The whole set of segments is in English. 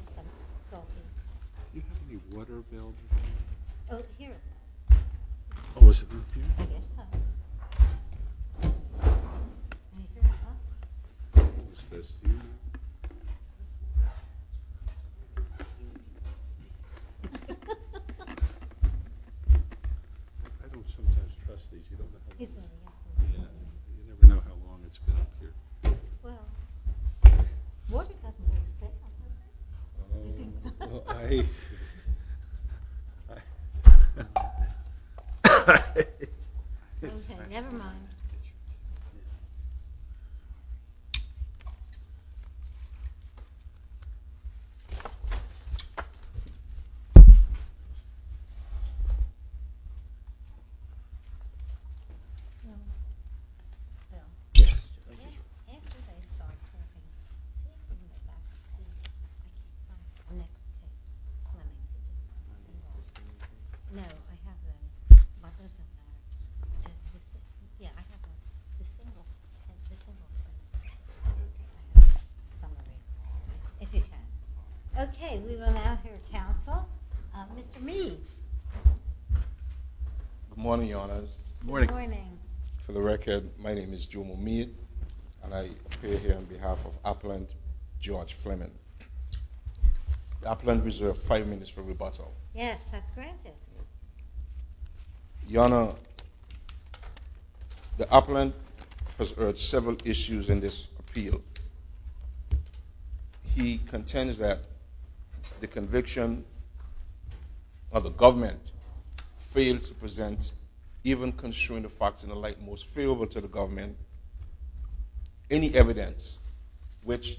Do you have any water bills? Oh, here. Oh, is it up here? I guess so. Is this here? I don't sometimes trust these. You don't know how long it's been up here. Well, water doesn't go up there. Well, I... Okay, never mind. Yes, thank you. Next is Flemming. No, I have one. My first name is Flemming. Yeah, I have one. December. December is Flemming. If you can. Okay, we will now hear counsel. Mr. Meade. Good morning, Your Honors. Good morning. For the record, my name is Joe Meade, and I appear here on behalf of Apland, George Flemming. The Apland Reserve, five minutes for rebuttal. Yes, that's granted. Your Honor, the Apland has heard several issues in this appeal. He contends that the conviction of the government failed to present even construing the facts in the light most favorable to the government any evidence which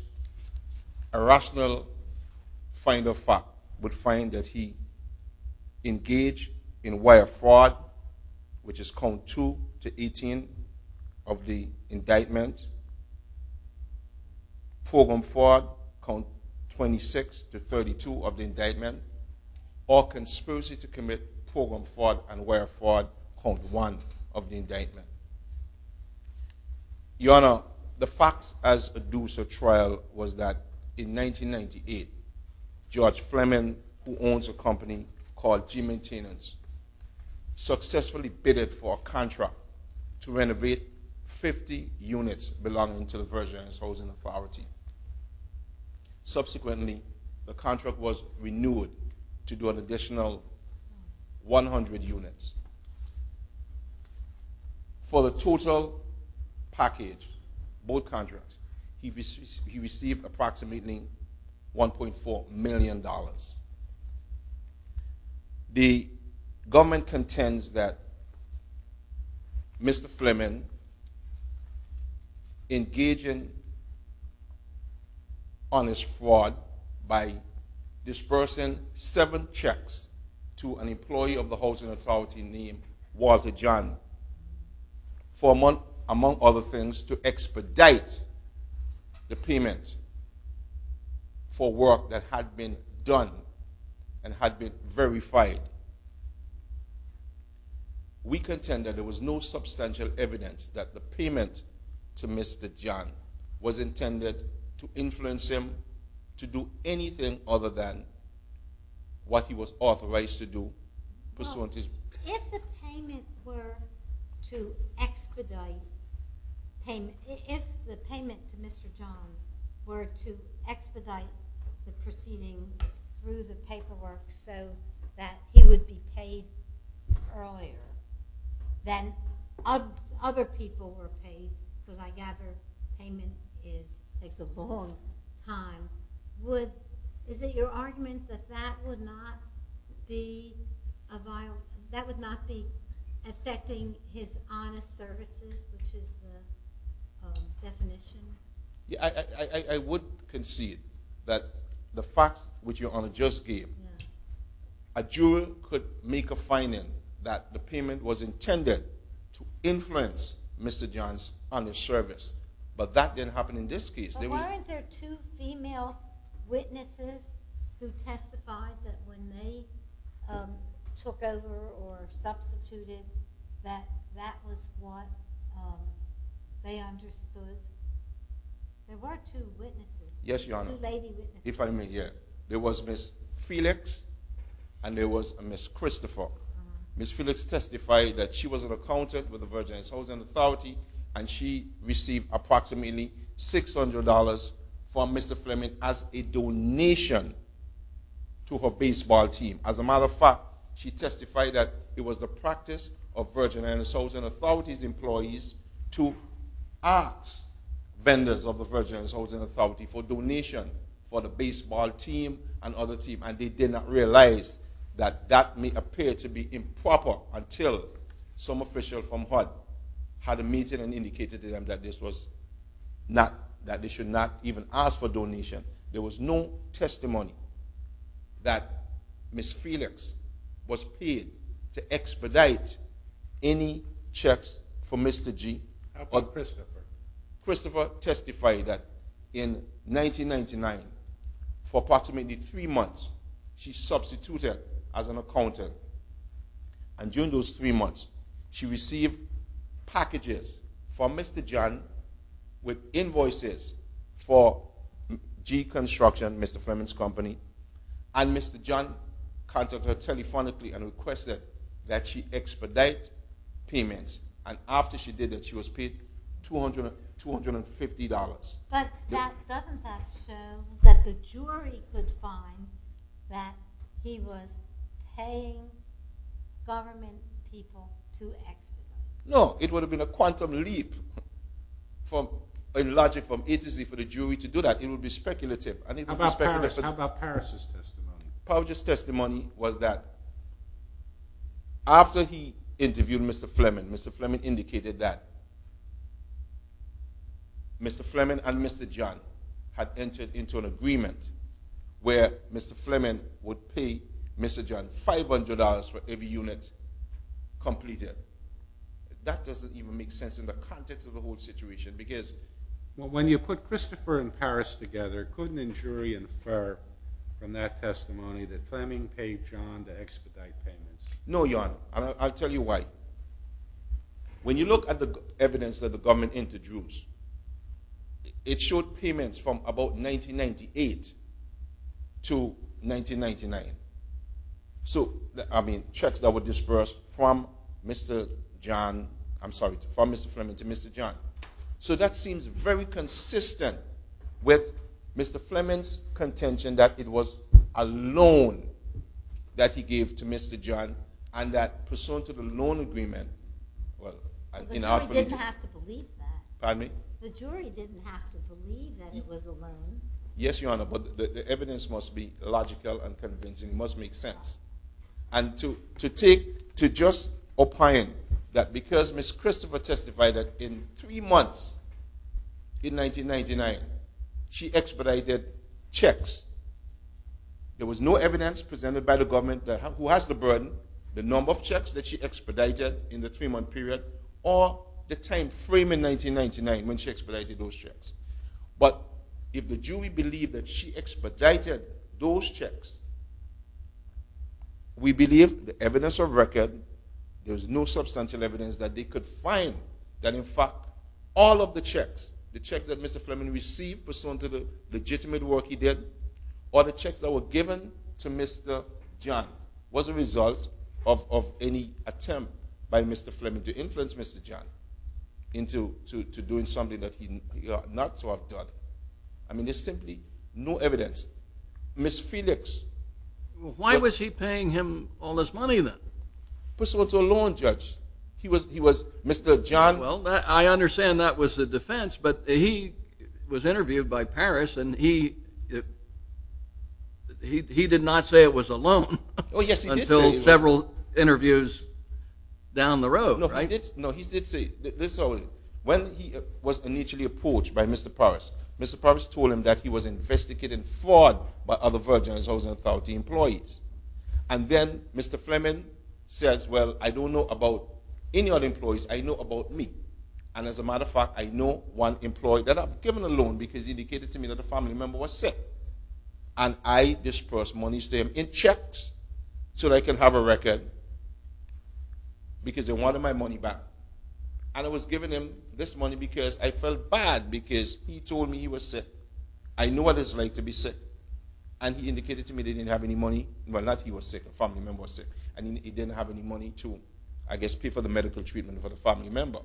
a rational finder of fact would find that he engaged in wire fraud, which is count two to 18 of the indictment, program fraud, count 26 to 32 of the indictment, or conspiracy to commit program fraud and wire fraud, count one of the indictment. Your Honor, the facts as due to trial was that in 1998, George Flemming, who owns a company called G-Maintenance, successfully bidded for a contract to renovate 50 units belonging to the Persians Housing Authority. Subsequently, the contract was renewed to do an additional 100 units. For the total package, both contracts, he received approximately $1.4 million. The government contends that Mr. Flemming, engaging on his fraud by dispersing seven checks to an employee of the Housing Authority named Walter John, among other things, to expedite the payment for work that had been done and had been verified. We contend that there was no substantial evidence that the payment to Mr. John was intended to influence him to do anything other than what he was authorized to do. If the payment were to expedite, if the payment to Mr. John were to expedite the proceeding through the paperwork so that he would be paid earlier than other people were paid, because I gather payment takes a long time, is it your argument that that would not be affecting his honest services, which is the definition? I would concede that the facts which Your Honor just gave, a juror could make a finding that the payment was intended to influence Mr. John's honest service, but that didn't happen in this case. But weren't there two female witnesses who testified that when they took over or substituted, that that was what they understood? There were two witnesses. Yes, Your Honor. Two lady witnesses. If I may, yes. There was Ms. Felix and there was Ms. Christopher. Ms. Felix testified that she was an accountant with the Virgin Islands Housing Authority and she received approximately $600 from Mr. Fleming as a donation to her baseball team. As a matter of fact, she testified that it was the practice of Virgin Islands Housing Authority's employees to ask vendors of the Virgin Islands Housing Authority for donation for the baseball team and other teams, and they did not realize that that may appear to be improper until some official from HUD had a meeting and indicated to them that this was not, that they should not even ask for donation. There was no testimony that Ms. Felix was paid to expedite any checks for Mr. G. How about Christopher? Christopher testified that in 1999, for approximately three months, she substituted as an accountant, and during those three months, she received packages from Mr. John with invoices for G Construction, Mr. Fleming's company, and Mr. John contacted her telephonically and requested that she expedite payments, and after she did that, she was paid $250. But doesn't that show that the jury could find that he was paying government people to expedite? No, it would have been a quantum leap in logic from A to Z for the jury to do that. It would be speculative. How about Paris' testimony? Paris' testimony was that after he interviewed Mr. Fleming, Mr. Fleming indicated that Mr. Fleming and Mr. John had entered into an agreement where Mr. Fleming would pay Mr. John $500 for every unit completed. That doesn't even make sense in the context of the whole situation because... Well, when you put Christopher and Paris together, couldn't a jury infer from that testimony that Fleming paid John to expedite payments? No, Your Honor, and I'll tell you why. When you look at the evidence that the government introduced, it showed payments from about 1998 to 1999. So, I mean, checks that were disbursed from Mr. Fleming to Mr. John. So that seems very consistent with Mr. Fleming's contention that it was a loan that he gave to Mr. John and that pursuant to the loan agreement... But the jury didn't have to believe that. Pardon me? The jury didn't have to believe that it was a loan. Yes, Your Honor, but the evidence must be logical and convincing. It must make sense. And to just opine that because Ms. Christopher testified that in three months in 1999, she expedited checks, there was no evidence presented by the government who has the burden, the number of checks that she expedited in the three-month period, or the time frame in 1999 when she expedited those checks. But if the jury believed that she expedited those checks, we believe the evidence of record, there's no substantial evidence that they could find that, in fact, all of the checks, the checks that Mr. Fleming received pursuant to the legitimate work he did, all the checks that were given to Mr. John was a result of any attempt by Mr. Fleming to influence Mr. John into doing something that he ought not to have done. I mean, there's simply no evidence. Ms. Felix... Why was he paying him all this money, then? Pursuant to a loan, Judge. He was... Mr. John... Well, I understand that was the defense, but he was interviewed by Paris, and he did not say it was a loan... Oh, yes, he did say it was a loan. ...until several interviews down the road, right? No, he did say it. When he was initially approached by Mr. Paris, Mr. Paris told him that he was investigating fraud by other Virgin Islands Authority employees. And then Mr. Fleming says, well, I don't know about any other employees. I know about me. And as a matter of fact, I know one employee that I've given a loan because he indicated to me that a family member was sick. And I disbursed money to him in checks so that I can have a record because they wanted my money back. And I was giving him this money because I felt bad because he told me he was sick. I know what it's like to be sick. And he indicated to me that he didn't have any money. Well, not he was sick. A family member was sick. And he didn't have any money to, I guess, pay for the medical treatment for the family member.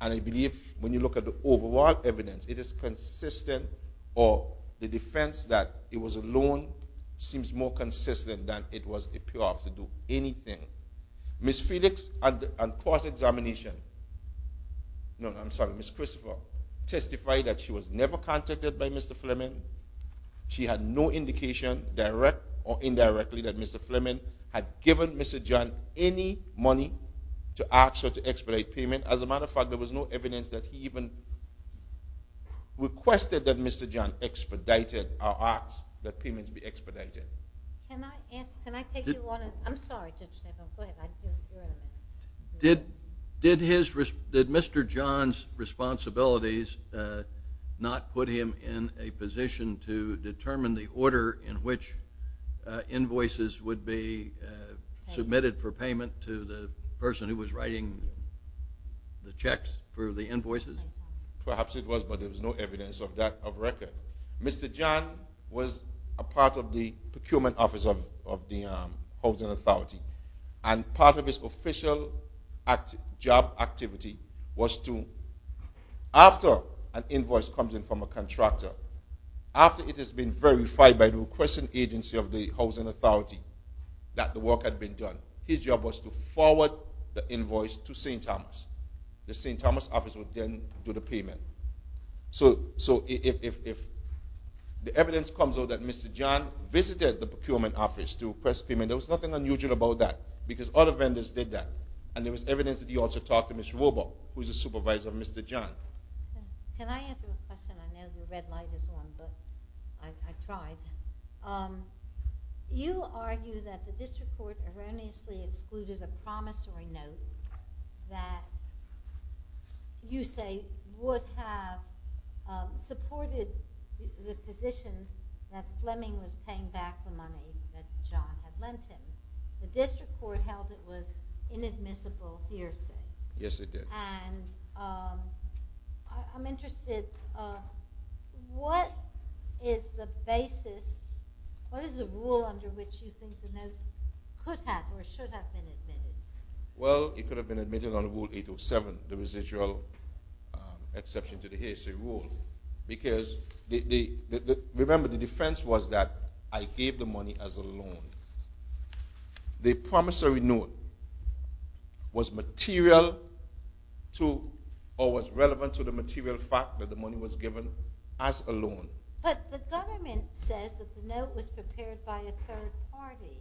And I believe when you look at the overall evidence, it is consistent or the defense that it was a loan seems more consistent than it was a payoff to do anything. Ms. Felix and cross-examination, no, I'm sorry, Ms. Christopher, testified that she was never contacted by Mr. Fleming. She had no indication, direct or indirectly, that Mr. Fleming had given Mr. John any money to ask her to expedite payment. As a matter of fact, there was no evidence that he even requested that Mr. John expedited our asks that payments be expedited. Can I ask, can I take your warning? I'm sorry, Judge Nichols. Go ahead. Did his, did Mr. John's responsibilities not put him in a position to determine the order in which invoices would be submitted for payment to the person who was writing the checks for the invoices? Perhaps it was, but there was no evidence of record. Mr. John was a part of the procurement office of the Housing Authority. And part of his official job activity was to, after an invoice comes in from a contractor, after it has been verified by the requesting agency of the Housing Authority that the work had been done, his job was to forward the invoice to St. Thomas. The St. Thomas office would then do the payment. So if the evidence comes out that Mr. John visited the procurement office to request payment, there was nothing unusual about that, because other vendors did that. And there was evidence that he also talked to Ms. Robo, who is the supervisor of Mr. John. Can I ask you a question? I know the red light is on, but I tried. You argue that the district court erroneously excluded a promissory note that you say would have supported the position that Fleming was paying back the money that John had lent him. The district court held it was inadmissible hearsay. Yes, it did. And I'm interested, what is the basis, what is the rule under which you think the note could have or should have been admitted? Well, it could have been admitted under Rule 807, the residual exception to the hearsay rule, because remember, the defense was that I gave the money as a loan. The promissory note was relevant to the material fact that the money was given as a loan. But the government says that the note was prepared by a third party.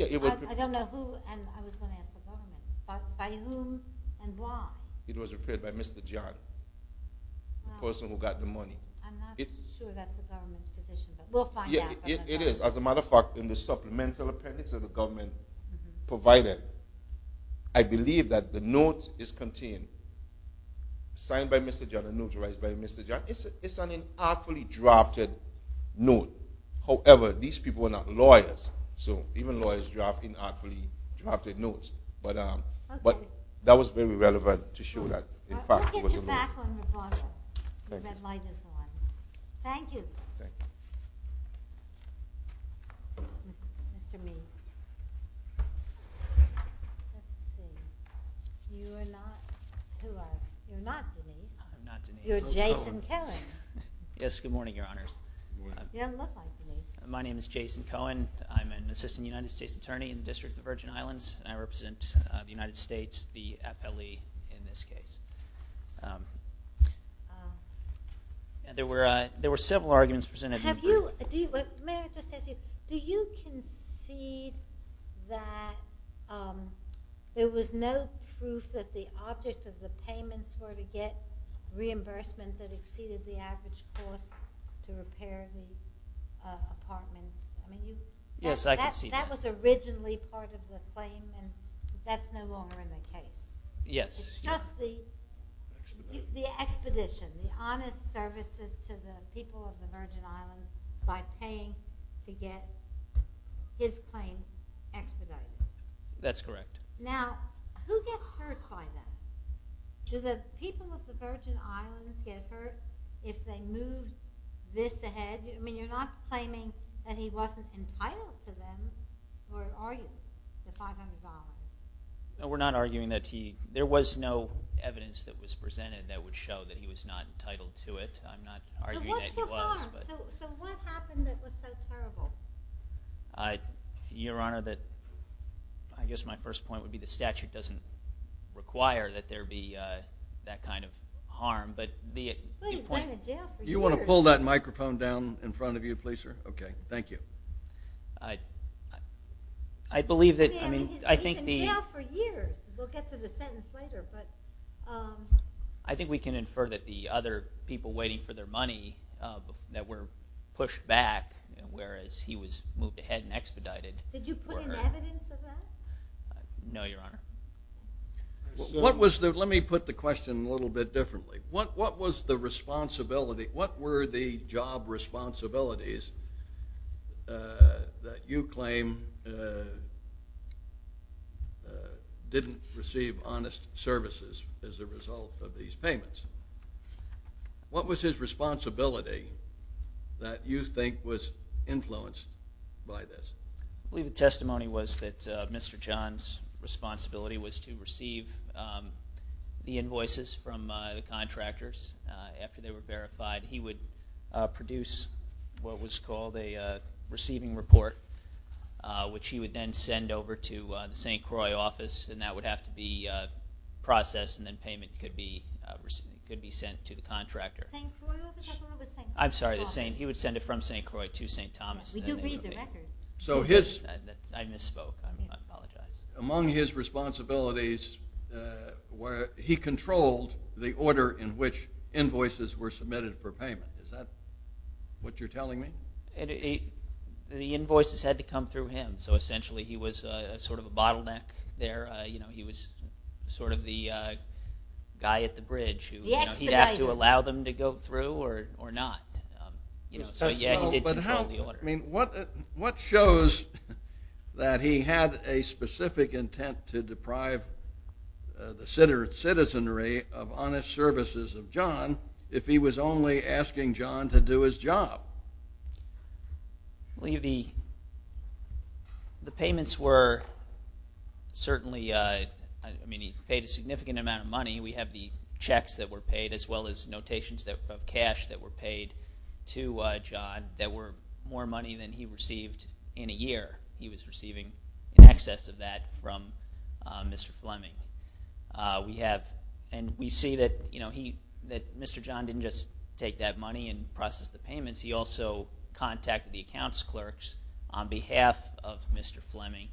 I don't know who, and I was going to ask the government, but by whom and why? It was prepared by Mr. John, the person who got the money. I'm not sure that's the government's position, but we'll find out. It is. As a matter of fact, in the supplemental appendix that the government provided, I believe that the note is contained. Signed by Mr. John and notarized by Mr. John. It's an inartfully drafted note. However, these people were not lawyers, so even lawyers draft inartfully drafted notes. But that was very relevant to show that, in fact, it was a note. We'll get you back on the broadcast. The red light is on. Thank you. Denise. You are not Denise. I'm not Denise. You're Jason Cohen. Yes, good morning, Your Honors. You don't look like Denise. My name is Jason Cohen. I'm an assistant United States attorney in the District of the Virgin Islands, and I represent the United States, the FLE in this case. There were several arguments presented. May I just ask you, do you concede that there was no proof that the object of the payments were to get reimbursement that exceeded the average cost to repair the apartments? Yes, I concede that. That was originally part of the claim, and that's no longer in the case? Yes. It's just the expedition, the honest services to the people of the Virgin Islands by paying to get his claim expedited. That's correct. Now, who gets hurt by that? Do the people of the Virgin Islands get hurt if they move this ahead? I mean, you're not claiming that he wasn't entitled to them, or are you, the 500 dollars? No, we're not arguing that he, there was no evidence that was presented that would show that he was not entitled to it. I'm not arguing that he was. So what's the harm? So what happened that was so terrible? Your Honor, I guess my first point would be the statute doesn't require that there be that kind of harm, but the point... Well, he's been in jail for years. Do you want to pull that microphone down in front of you, please, sir? Okay, thank you. I believe that, I mean, I think the... He's been in jail for years. We'll get to the sentence later, but... I think we can infer that the other people waiting for their money that were pushed back, whereas he was moved ahead and expedited... Did you put in evidence of that? No, Your Honor. What was the, let me put the question a little bit differently. What was the responsibility, what were the job responsibilities that you claim didn't receive honest services as a result of these payments? What was his responsibility that you think was influenced by this? I believe the testimony was that Mr. John's responsibility was to receive the invoices from the contractors after they were verified. He would produce what was called a receiving report which he would then send over to the St. Croix office and that would have to be processed and then payment could be sent to the contractor. St. Croix office? I'm sorry, he would send it from St. Croix to St. Thomas. We do read the record. So his... I misspoke, I apologize. Among his responsibilities, he controlled the order in which invoices were submitted for payment. Is that what you're telling me? The invoices had to come through him so essentially he was sort of a bottleneck there. He was sort of the guy at the bridge. He'd have to allow them to go through or not. So yeah, he did control the order. What shows that he had a specific intent to deprive the citizenry of honest services of John if he was only asking John to do his job? I believe the payments were certainly... I mean, he paid a significant amount of money. We have the checks that were paid as well as notations of cash that were paid to John that were more money than he received in a year. He was receiving in excess of that from Mr. Fleming. We have... And we see that Mr. John didn't just take that money and process the payments. He also contacted the accounts clerks on behalf of Mr. Fleming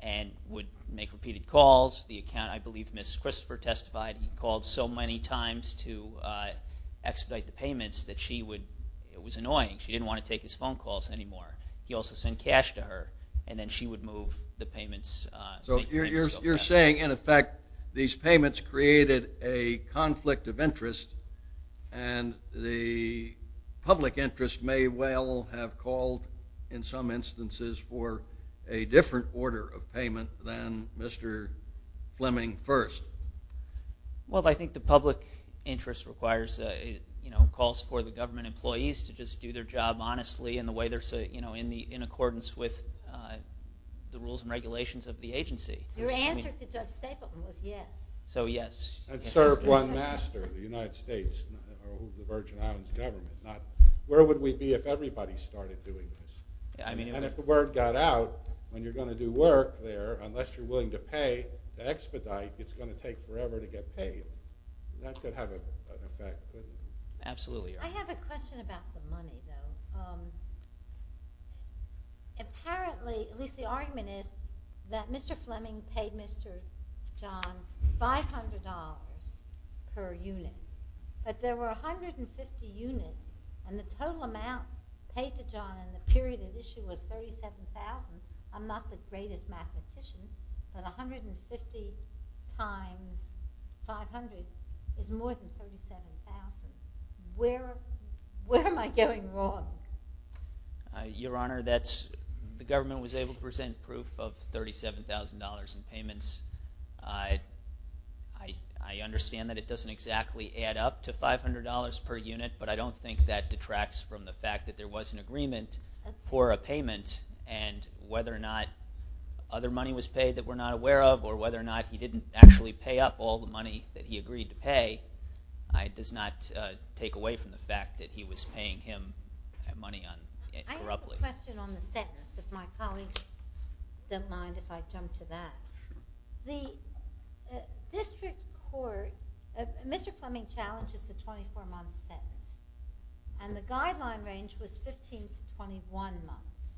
and would make repeated calls. The account... I believe Ms. Christopher testified and called so many times to expedite the payments that she would... It was annoying. She didn't want to take his phone calls anymore. He also sent cash to her and then she would move the payments. So you're saying, in effect, these payments created a conflict of interest and the public interest may well have called, in some instances, for a different order of payment than Mr. Fleming first. Well, I think the public interest requires... calls for the government employees to just do their job honestly in the way they're... in accordance with the rules and regulations of the agency. Your answer to Judge Stapleton was yes. So, yes. And serve one master, the United States, the Virgin Islands government. Where would we be if everybody started doing this? And if the word got out, when you're going to do work there, unless you're willing to pay the expedite, it's going to take forever to get paid. That could have an effect. Absolutely. I have a question about the money, though. Apparently, at least the argument is, that Mr. Fleming paid Mr. John $500 per unit. But there were 150 units, and the total amount paid to John in the period of issue was $37,000. I'm not the greatest mathematician, but 150 times 500 is more than $37,000. Where am I going wrong? Your Honor, that's... the government was able to present proof of $37,000 in payments. I understand that it doesn't exactly add up to $500 per unit, but I don't think that detracts from the fact that there was an agreement for a payment, and whether or not other money was paid that we're not aware of, or whether or not he didn't actually pay up all the money that he agreed to pay, does not take away from the fact that he was paying him money corruptly. I have a question on the sentence. If my colleagues don't mind if I jump to that. The district court... Mr. Fleming challenges a 24-month sentence, and the guideline range was 15 to 21 months.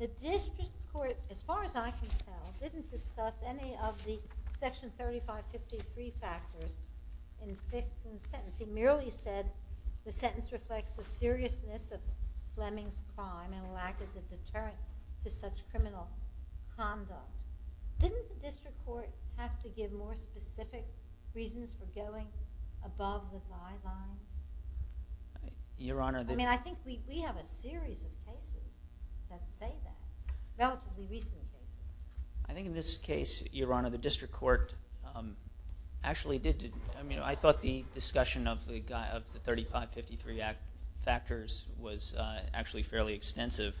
The district court, as far as I can tell, didn't discuss any of the Section 3553 factors in this sentence. He merely said the sentence reflects the seriousness of Fleming's crime and the lack of a deterrent to such criminal conduct. Didn't the district court have to give more specific reasons for going above the guideline? Your Honor... I mean, I think we have a series of cases that say that, relatively recently. I think in this case, Your Honor, the district court actually did... I mean, I thought the discussion of the 3553 factors was actually fairly extensive,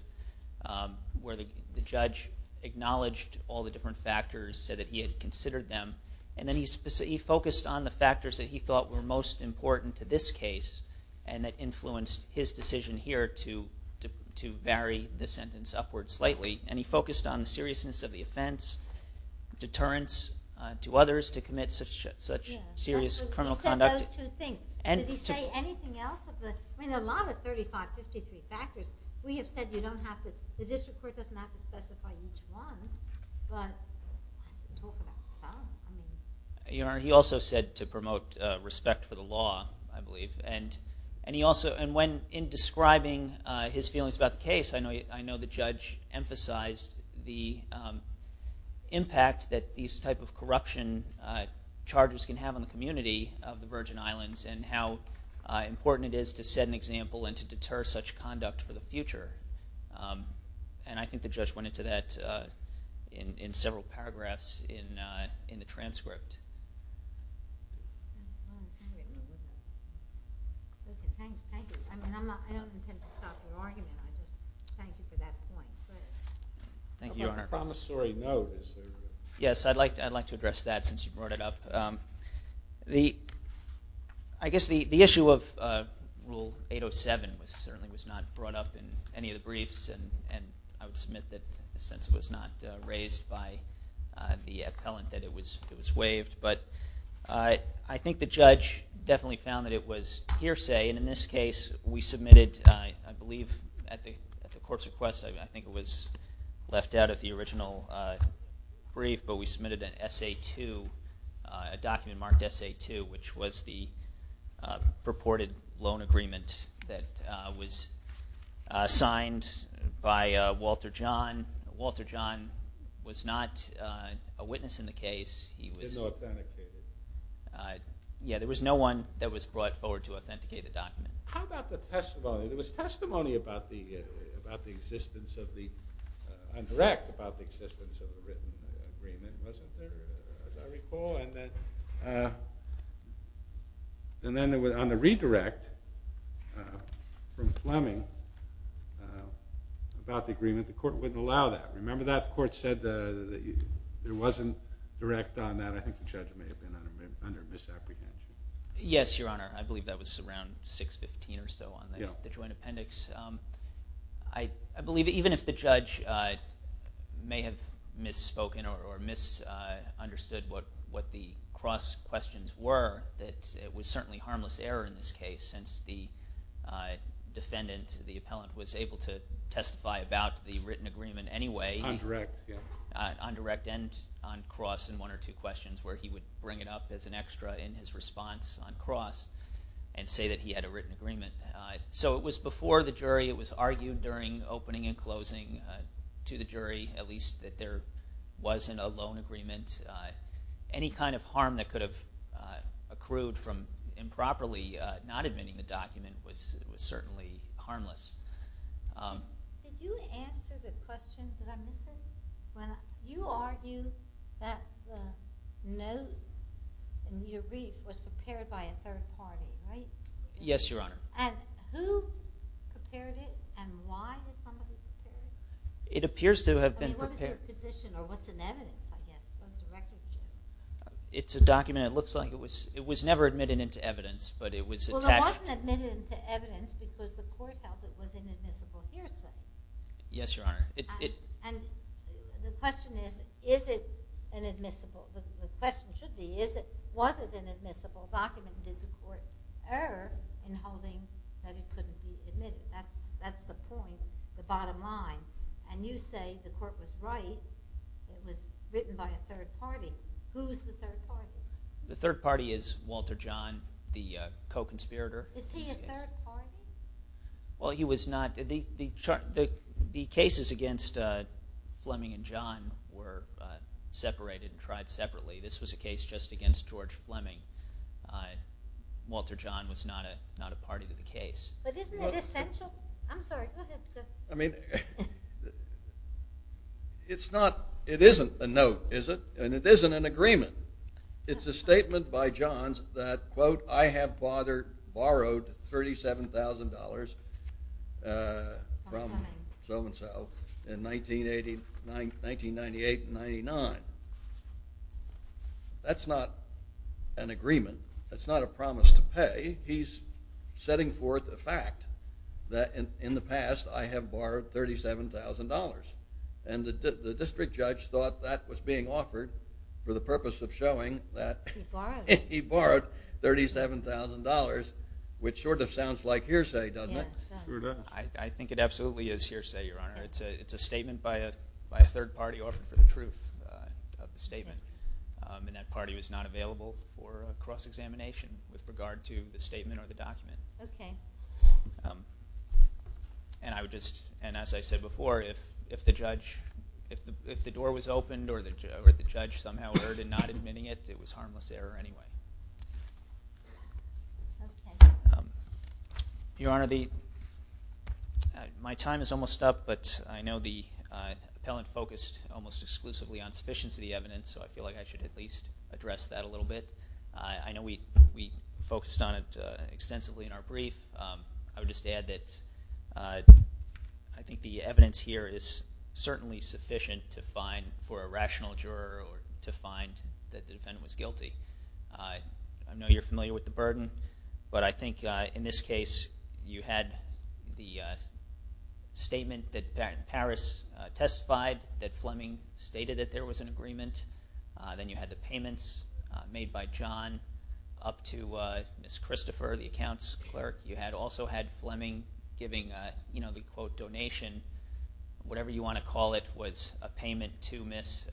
where the judge acknowledged all the different factors, said that he had considered them, and then he focused on the factors that he thought were most important to this case and that influenced his decision here to vary the sentence upward slightly. And he focused on the seriousness of the offense, deterrence to others to commit such serious criminal conduct. He said those two things. Did he say anything else? I mean, a lot of 3553 factors, we have said you don't have to... the district court doesn't have to specify each one, but... Your Honor, he also said to promote respect for the law, I believe, and he also... and when in describing his feelings about the case, I know the judge emphasized the impact that these type of corruption charges can have on the community of the Virgin Islands and how important it is to set an example and to deter such conduct for the future. And I think the judge went into that in several paragraphs in the transcript. Thank you. I don't intend to stop your argument. Thank you for that point. Thank you, Your Honor. A promissory note. Yes, I'd like to address that since you brought it up. The... I guess the issue of Rule 807 certainly was not brought up in any of the briefs, and I would submit that since it was not raised by the appellant that it was waived. But I think the judge definitely found that it was hearsay, and in this case, we submitted, I believe, at the court's request, I think it was left out of the original brief, but we submitted an SA-2, a document marked SA-2, which was the purported loan agreement that was signed by Walter John. Walter John was not a witness in the case. He was... Yeah, there was no one that was brought forward to authenticate the document. How about the testimony? There was testimony about the existence of the... and it wasn't there, as I recall, and then on the redirect from Fleming about the agreement, the court wouldn't allow that. Remember that? The court said there wasn't direct on that. I think the judge may have been under misapprehension. Yes, Your Honor, I believe that was around 615 or so on the joint appendix. I believe even if the judge may have misspoken or misunderstood what the cross questions were, that it was certainly harmless error in this case since the defendant, the appellant, was able to testify about the written agreement anyway... On direct, yeah. On direct and on cross in one or two questions where he would bring it up as an extra in his response on cross and say that he had a written agreement. So it was before the jury. It was argued during opening and closing to the jury, at least, that there wasn't a loan agreement. Any kind of harm that could have accrued from improperly not admitting the document was certainly harmless. Could you answer the question that I'm missing? When you argue that the note in your brief was prepared by a third party, right? Yes, Your Honor. And who prepared it and why would somebody prepare it? It appears to have been prepared... I mean, what was your position, or what's in evidence? It's a document. It looks like it was never admitted into evidence, but it was attached... Well, it wasn't admitted into evidence because the court held it was an admissible hearsay. Yes, Your Honor. And the question is, is it an admissible... The question should be, was it an admissible document or did the court err in holding that it couldn't be admitted? That's the point, the bottom line. And you say the court was right, it was written by a third party. Who's the third party? The third party is Walter John, the co-conspirator. Is he a third party? Well, he was not... The cases against Fleming and John were separated and tried separately. This was a case just against George Fleming. Walter John was not a party to the case. But isn't it essential? I'm sorry. I mean, it's not... It isn't a note, is it? And it isn't an agreement. It's a statement by John that, quote, I have borrowed $37,000 from so-and-so in 1998 and 99. That's not an agreement. That's not a promise to pay. He's setting forth a fact that, in the past, I have borrowed $37,000. And the district judge thought that was being offered for the purpose of showing that he borrowed $37,000, which sort of sounds like hearsay, doesn't it? I think it absolutely is hearsay, Your Honor. It's a statement by a third party offered for the truth of the statement. And that party was not available for cross-examination with regard to the statement or the document. Okay. And I would just... And as I said before, if the door was opened or the judge somehow heard in not admitting it, it was harmless error anyway. Okay. Your Honor, my time is almost up, but I know the appellant focused almost exclusively on sufficiency of the evidence, so I feel like I should at least address that a little bit. I know we focused on it extensively in our brief. I would just add that I think the evidence here is certainly sufficient for a rational juror to find that the defendant was guilty. I know you're familiar with the burden, but I think in this case, you had the statement that Paris testified that Fleming stated that there was an agreement. Then you had the payments made by John up to Miss Christopher, the accounts clerk. You had also had Fleming giving the, quote, donation, whatever you want to call it, was a payment to Miss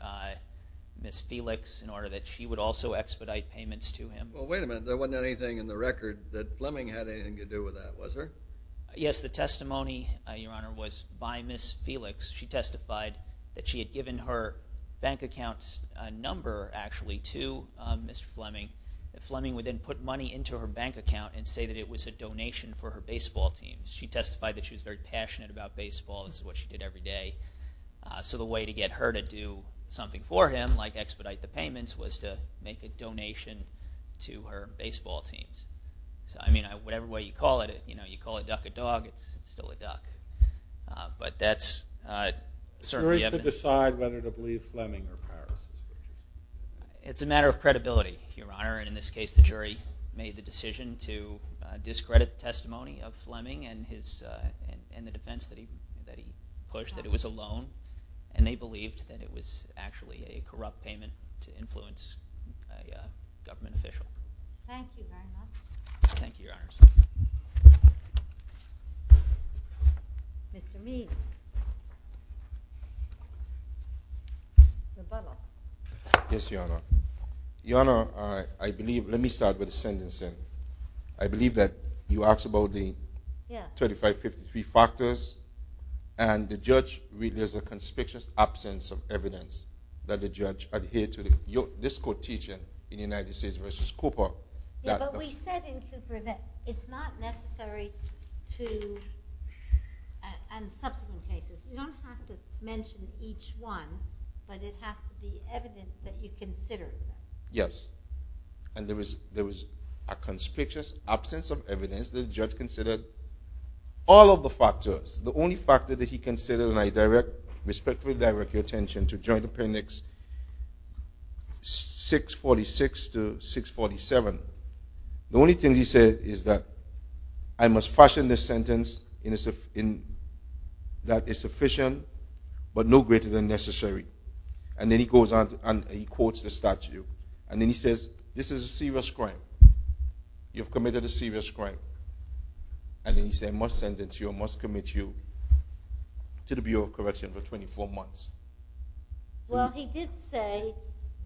Felix in order that she would also expedite payments to him. Well, wait a minute. There wasn't anything in the record that Fleming had anything to do with that, was there? Yes, the testimony, Your Honor, was by Miss Felix. She testified that she had given her bank account number, actually, to Mr. Fleming. Fleming would then put money into her bank account and say that it was a donation for her baseball team. She testified that she was very passionate about baseball. This is what she did every day. So the way to get her to do something for him, like expedite the payments, was to make a donation to her baseball team. I mean, whatever way you call it, you call a duck a dog, it's still a duck. But that's certainly evident. The jury could decide whether to believe Fleming or Harris. It's a matter of credibility, Your Honor, and in this case the jury made the decision to discredit the testimony of Fleming and the defense that he pushed, that it was a loan, and they believed that it was actually a corrupt payment to influence a government official. Thank you very much. Thank you, Your Honors. Mr. Means. Your butler. Yes, Your Honor. Your Honor, let me start with the sentencing. I believe that you asked about the 3553 factors, and the judge read there's a conspicuous absence of evidence that the judge adhered to this quotation in the United States v. Cooper. Yeah, but we said in Super that it's not necessary in subsequent cases. You don't have to mention each one, but it has to be evidence that you considered. Yes, and there was a conspicuous absence of evidence that the judge considered all of the factors. The only factor that he considered, and I respectfully direct your attention to Joint Appendix 646 to 647, the only thing he said is that I must fashion this sentence that is sufficient but no greater than necessary. And then he goes on and he quotes the statute, and then he says this is a serious crime. You've committed a serious crime. And then he said I must sentence you, I must commit you to the Bureau of Correction for 24 months. Well, he did say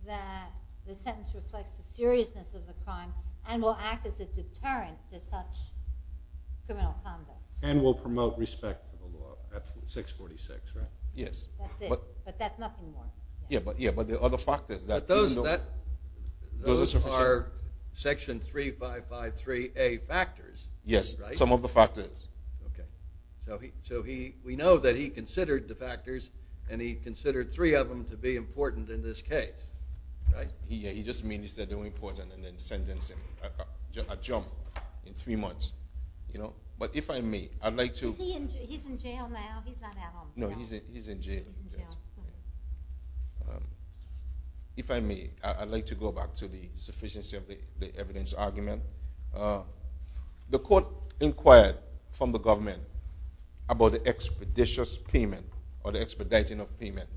that the sentence reflects the seriousness of the crime and will act as a deterrent to such criminal conduct. And will promote respect for the law. That's 646, right? Yes. That's it, but that's nothing more. Yeah, but there are other factors. Those are Section 3553A factors. Yes, some of the factors. Okay. So we know that he considered the factors and he considered three of them to be important in this case. He just means that they were important and then sentenced him, a jump, in three months. But if I may, I'd like to... He's in jail now, he's not at home. No, he's in jail. If I may, I'd like to go back to the sufficiency of the evidence argument. The court inquired from the government about the expeditious payment or the expediting of payment.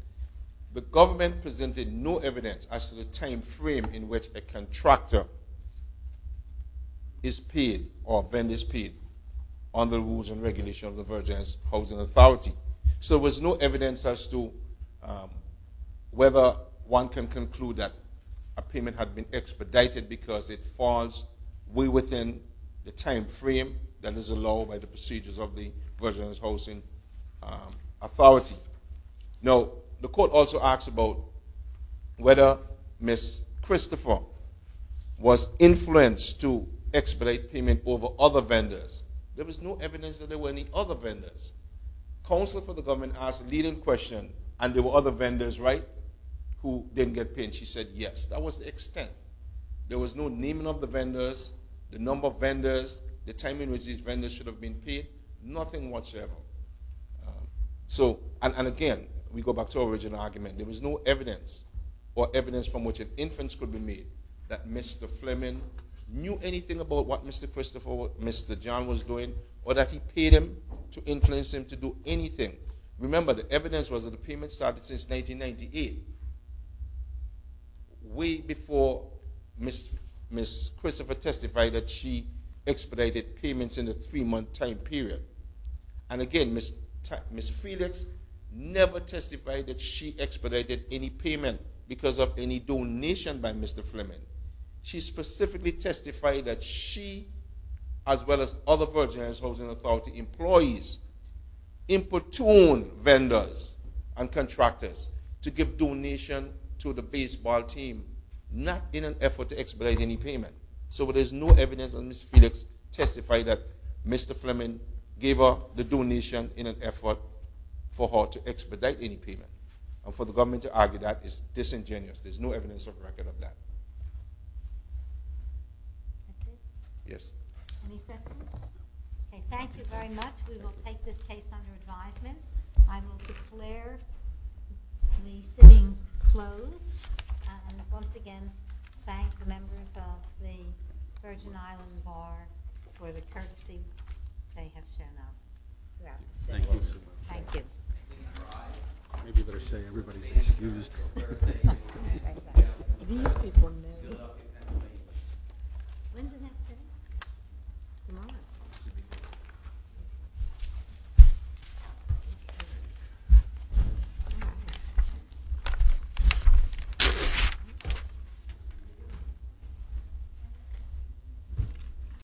The government presented no evidence as to the time frame in which a contractor is paid or then is paid on the rules and regulations of the Virginians Housing Authority. So there was no evidence as to whether one can conclude that a payment had been expedited because it falls well within the time frame that is allowed by the procedures of the Virginians Housing Authority. Now, the court also asked about whether Ms. Christopher was influenced to expedite payment over other vendors. There was no evidence that there were any other vendors. Counselor for the government asked a leading question, and there were other vendors, right, who didn't get paid, and she said yes. That was the extent. There was no naming of the vendors, the number of vendors, the time in which these vendors should have been paid, nothing whatsoever. And again, we go back to our original argument. There was no evidence or evidence from which an inference could be made that Mr. Fleming knew anything about what Mr. Christopher or Mr. John was doing or that he paid him to influence him to do anything. Remember, the evidence was that the payment started since 1998, way before Ms. Christopher testified that she expedited payments in a three-month time period. And again, Ms. Felix never testified that she expedited any payment because of any donation by Mr. Fleming. She specifically testified that she, as well as other Virgin Islands Housing Authority employees, importuned vendors and contractors to give donations to the baseball team, not in an effort to expedite any payment. So there's no evidence that Ms. Felix testified that Mr. Fleming gave her the donation in an effort for her to expedite any payment. And for the government to argue that is disingenuous. There's no evidence or record of that. Yes. Any questions? Okay, thank you very much. We will take this case under advisement. I will declare the sitting closed. And once again, thank the members of the Virgin Island Bar for the courtesy they have shown us throughout the session. Thank you. Thank you. Maybe you better say everybody's excused for a better day. These people know. When's the next hearing? Tomorrow?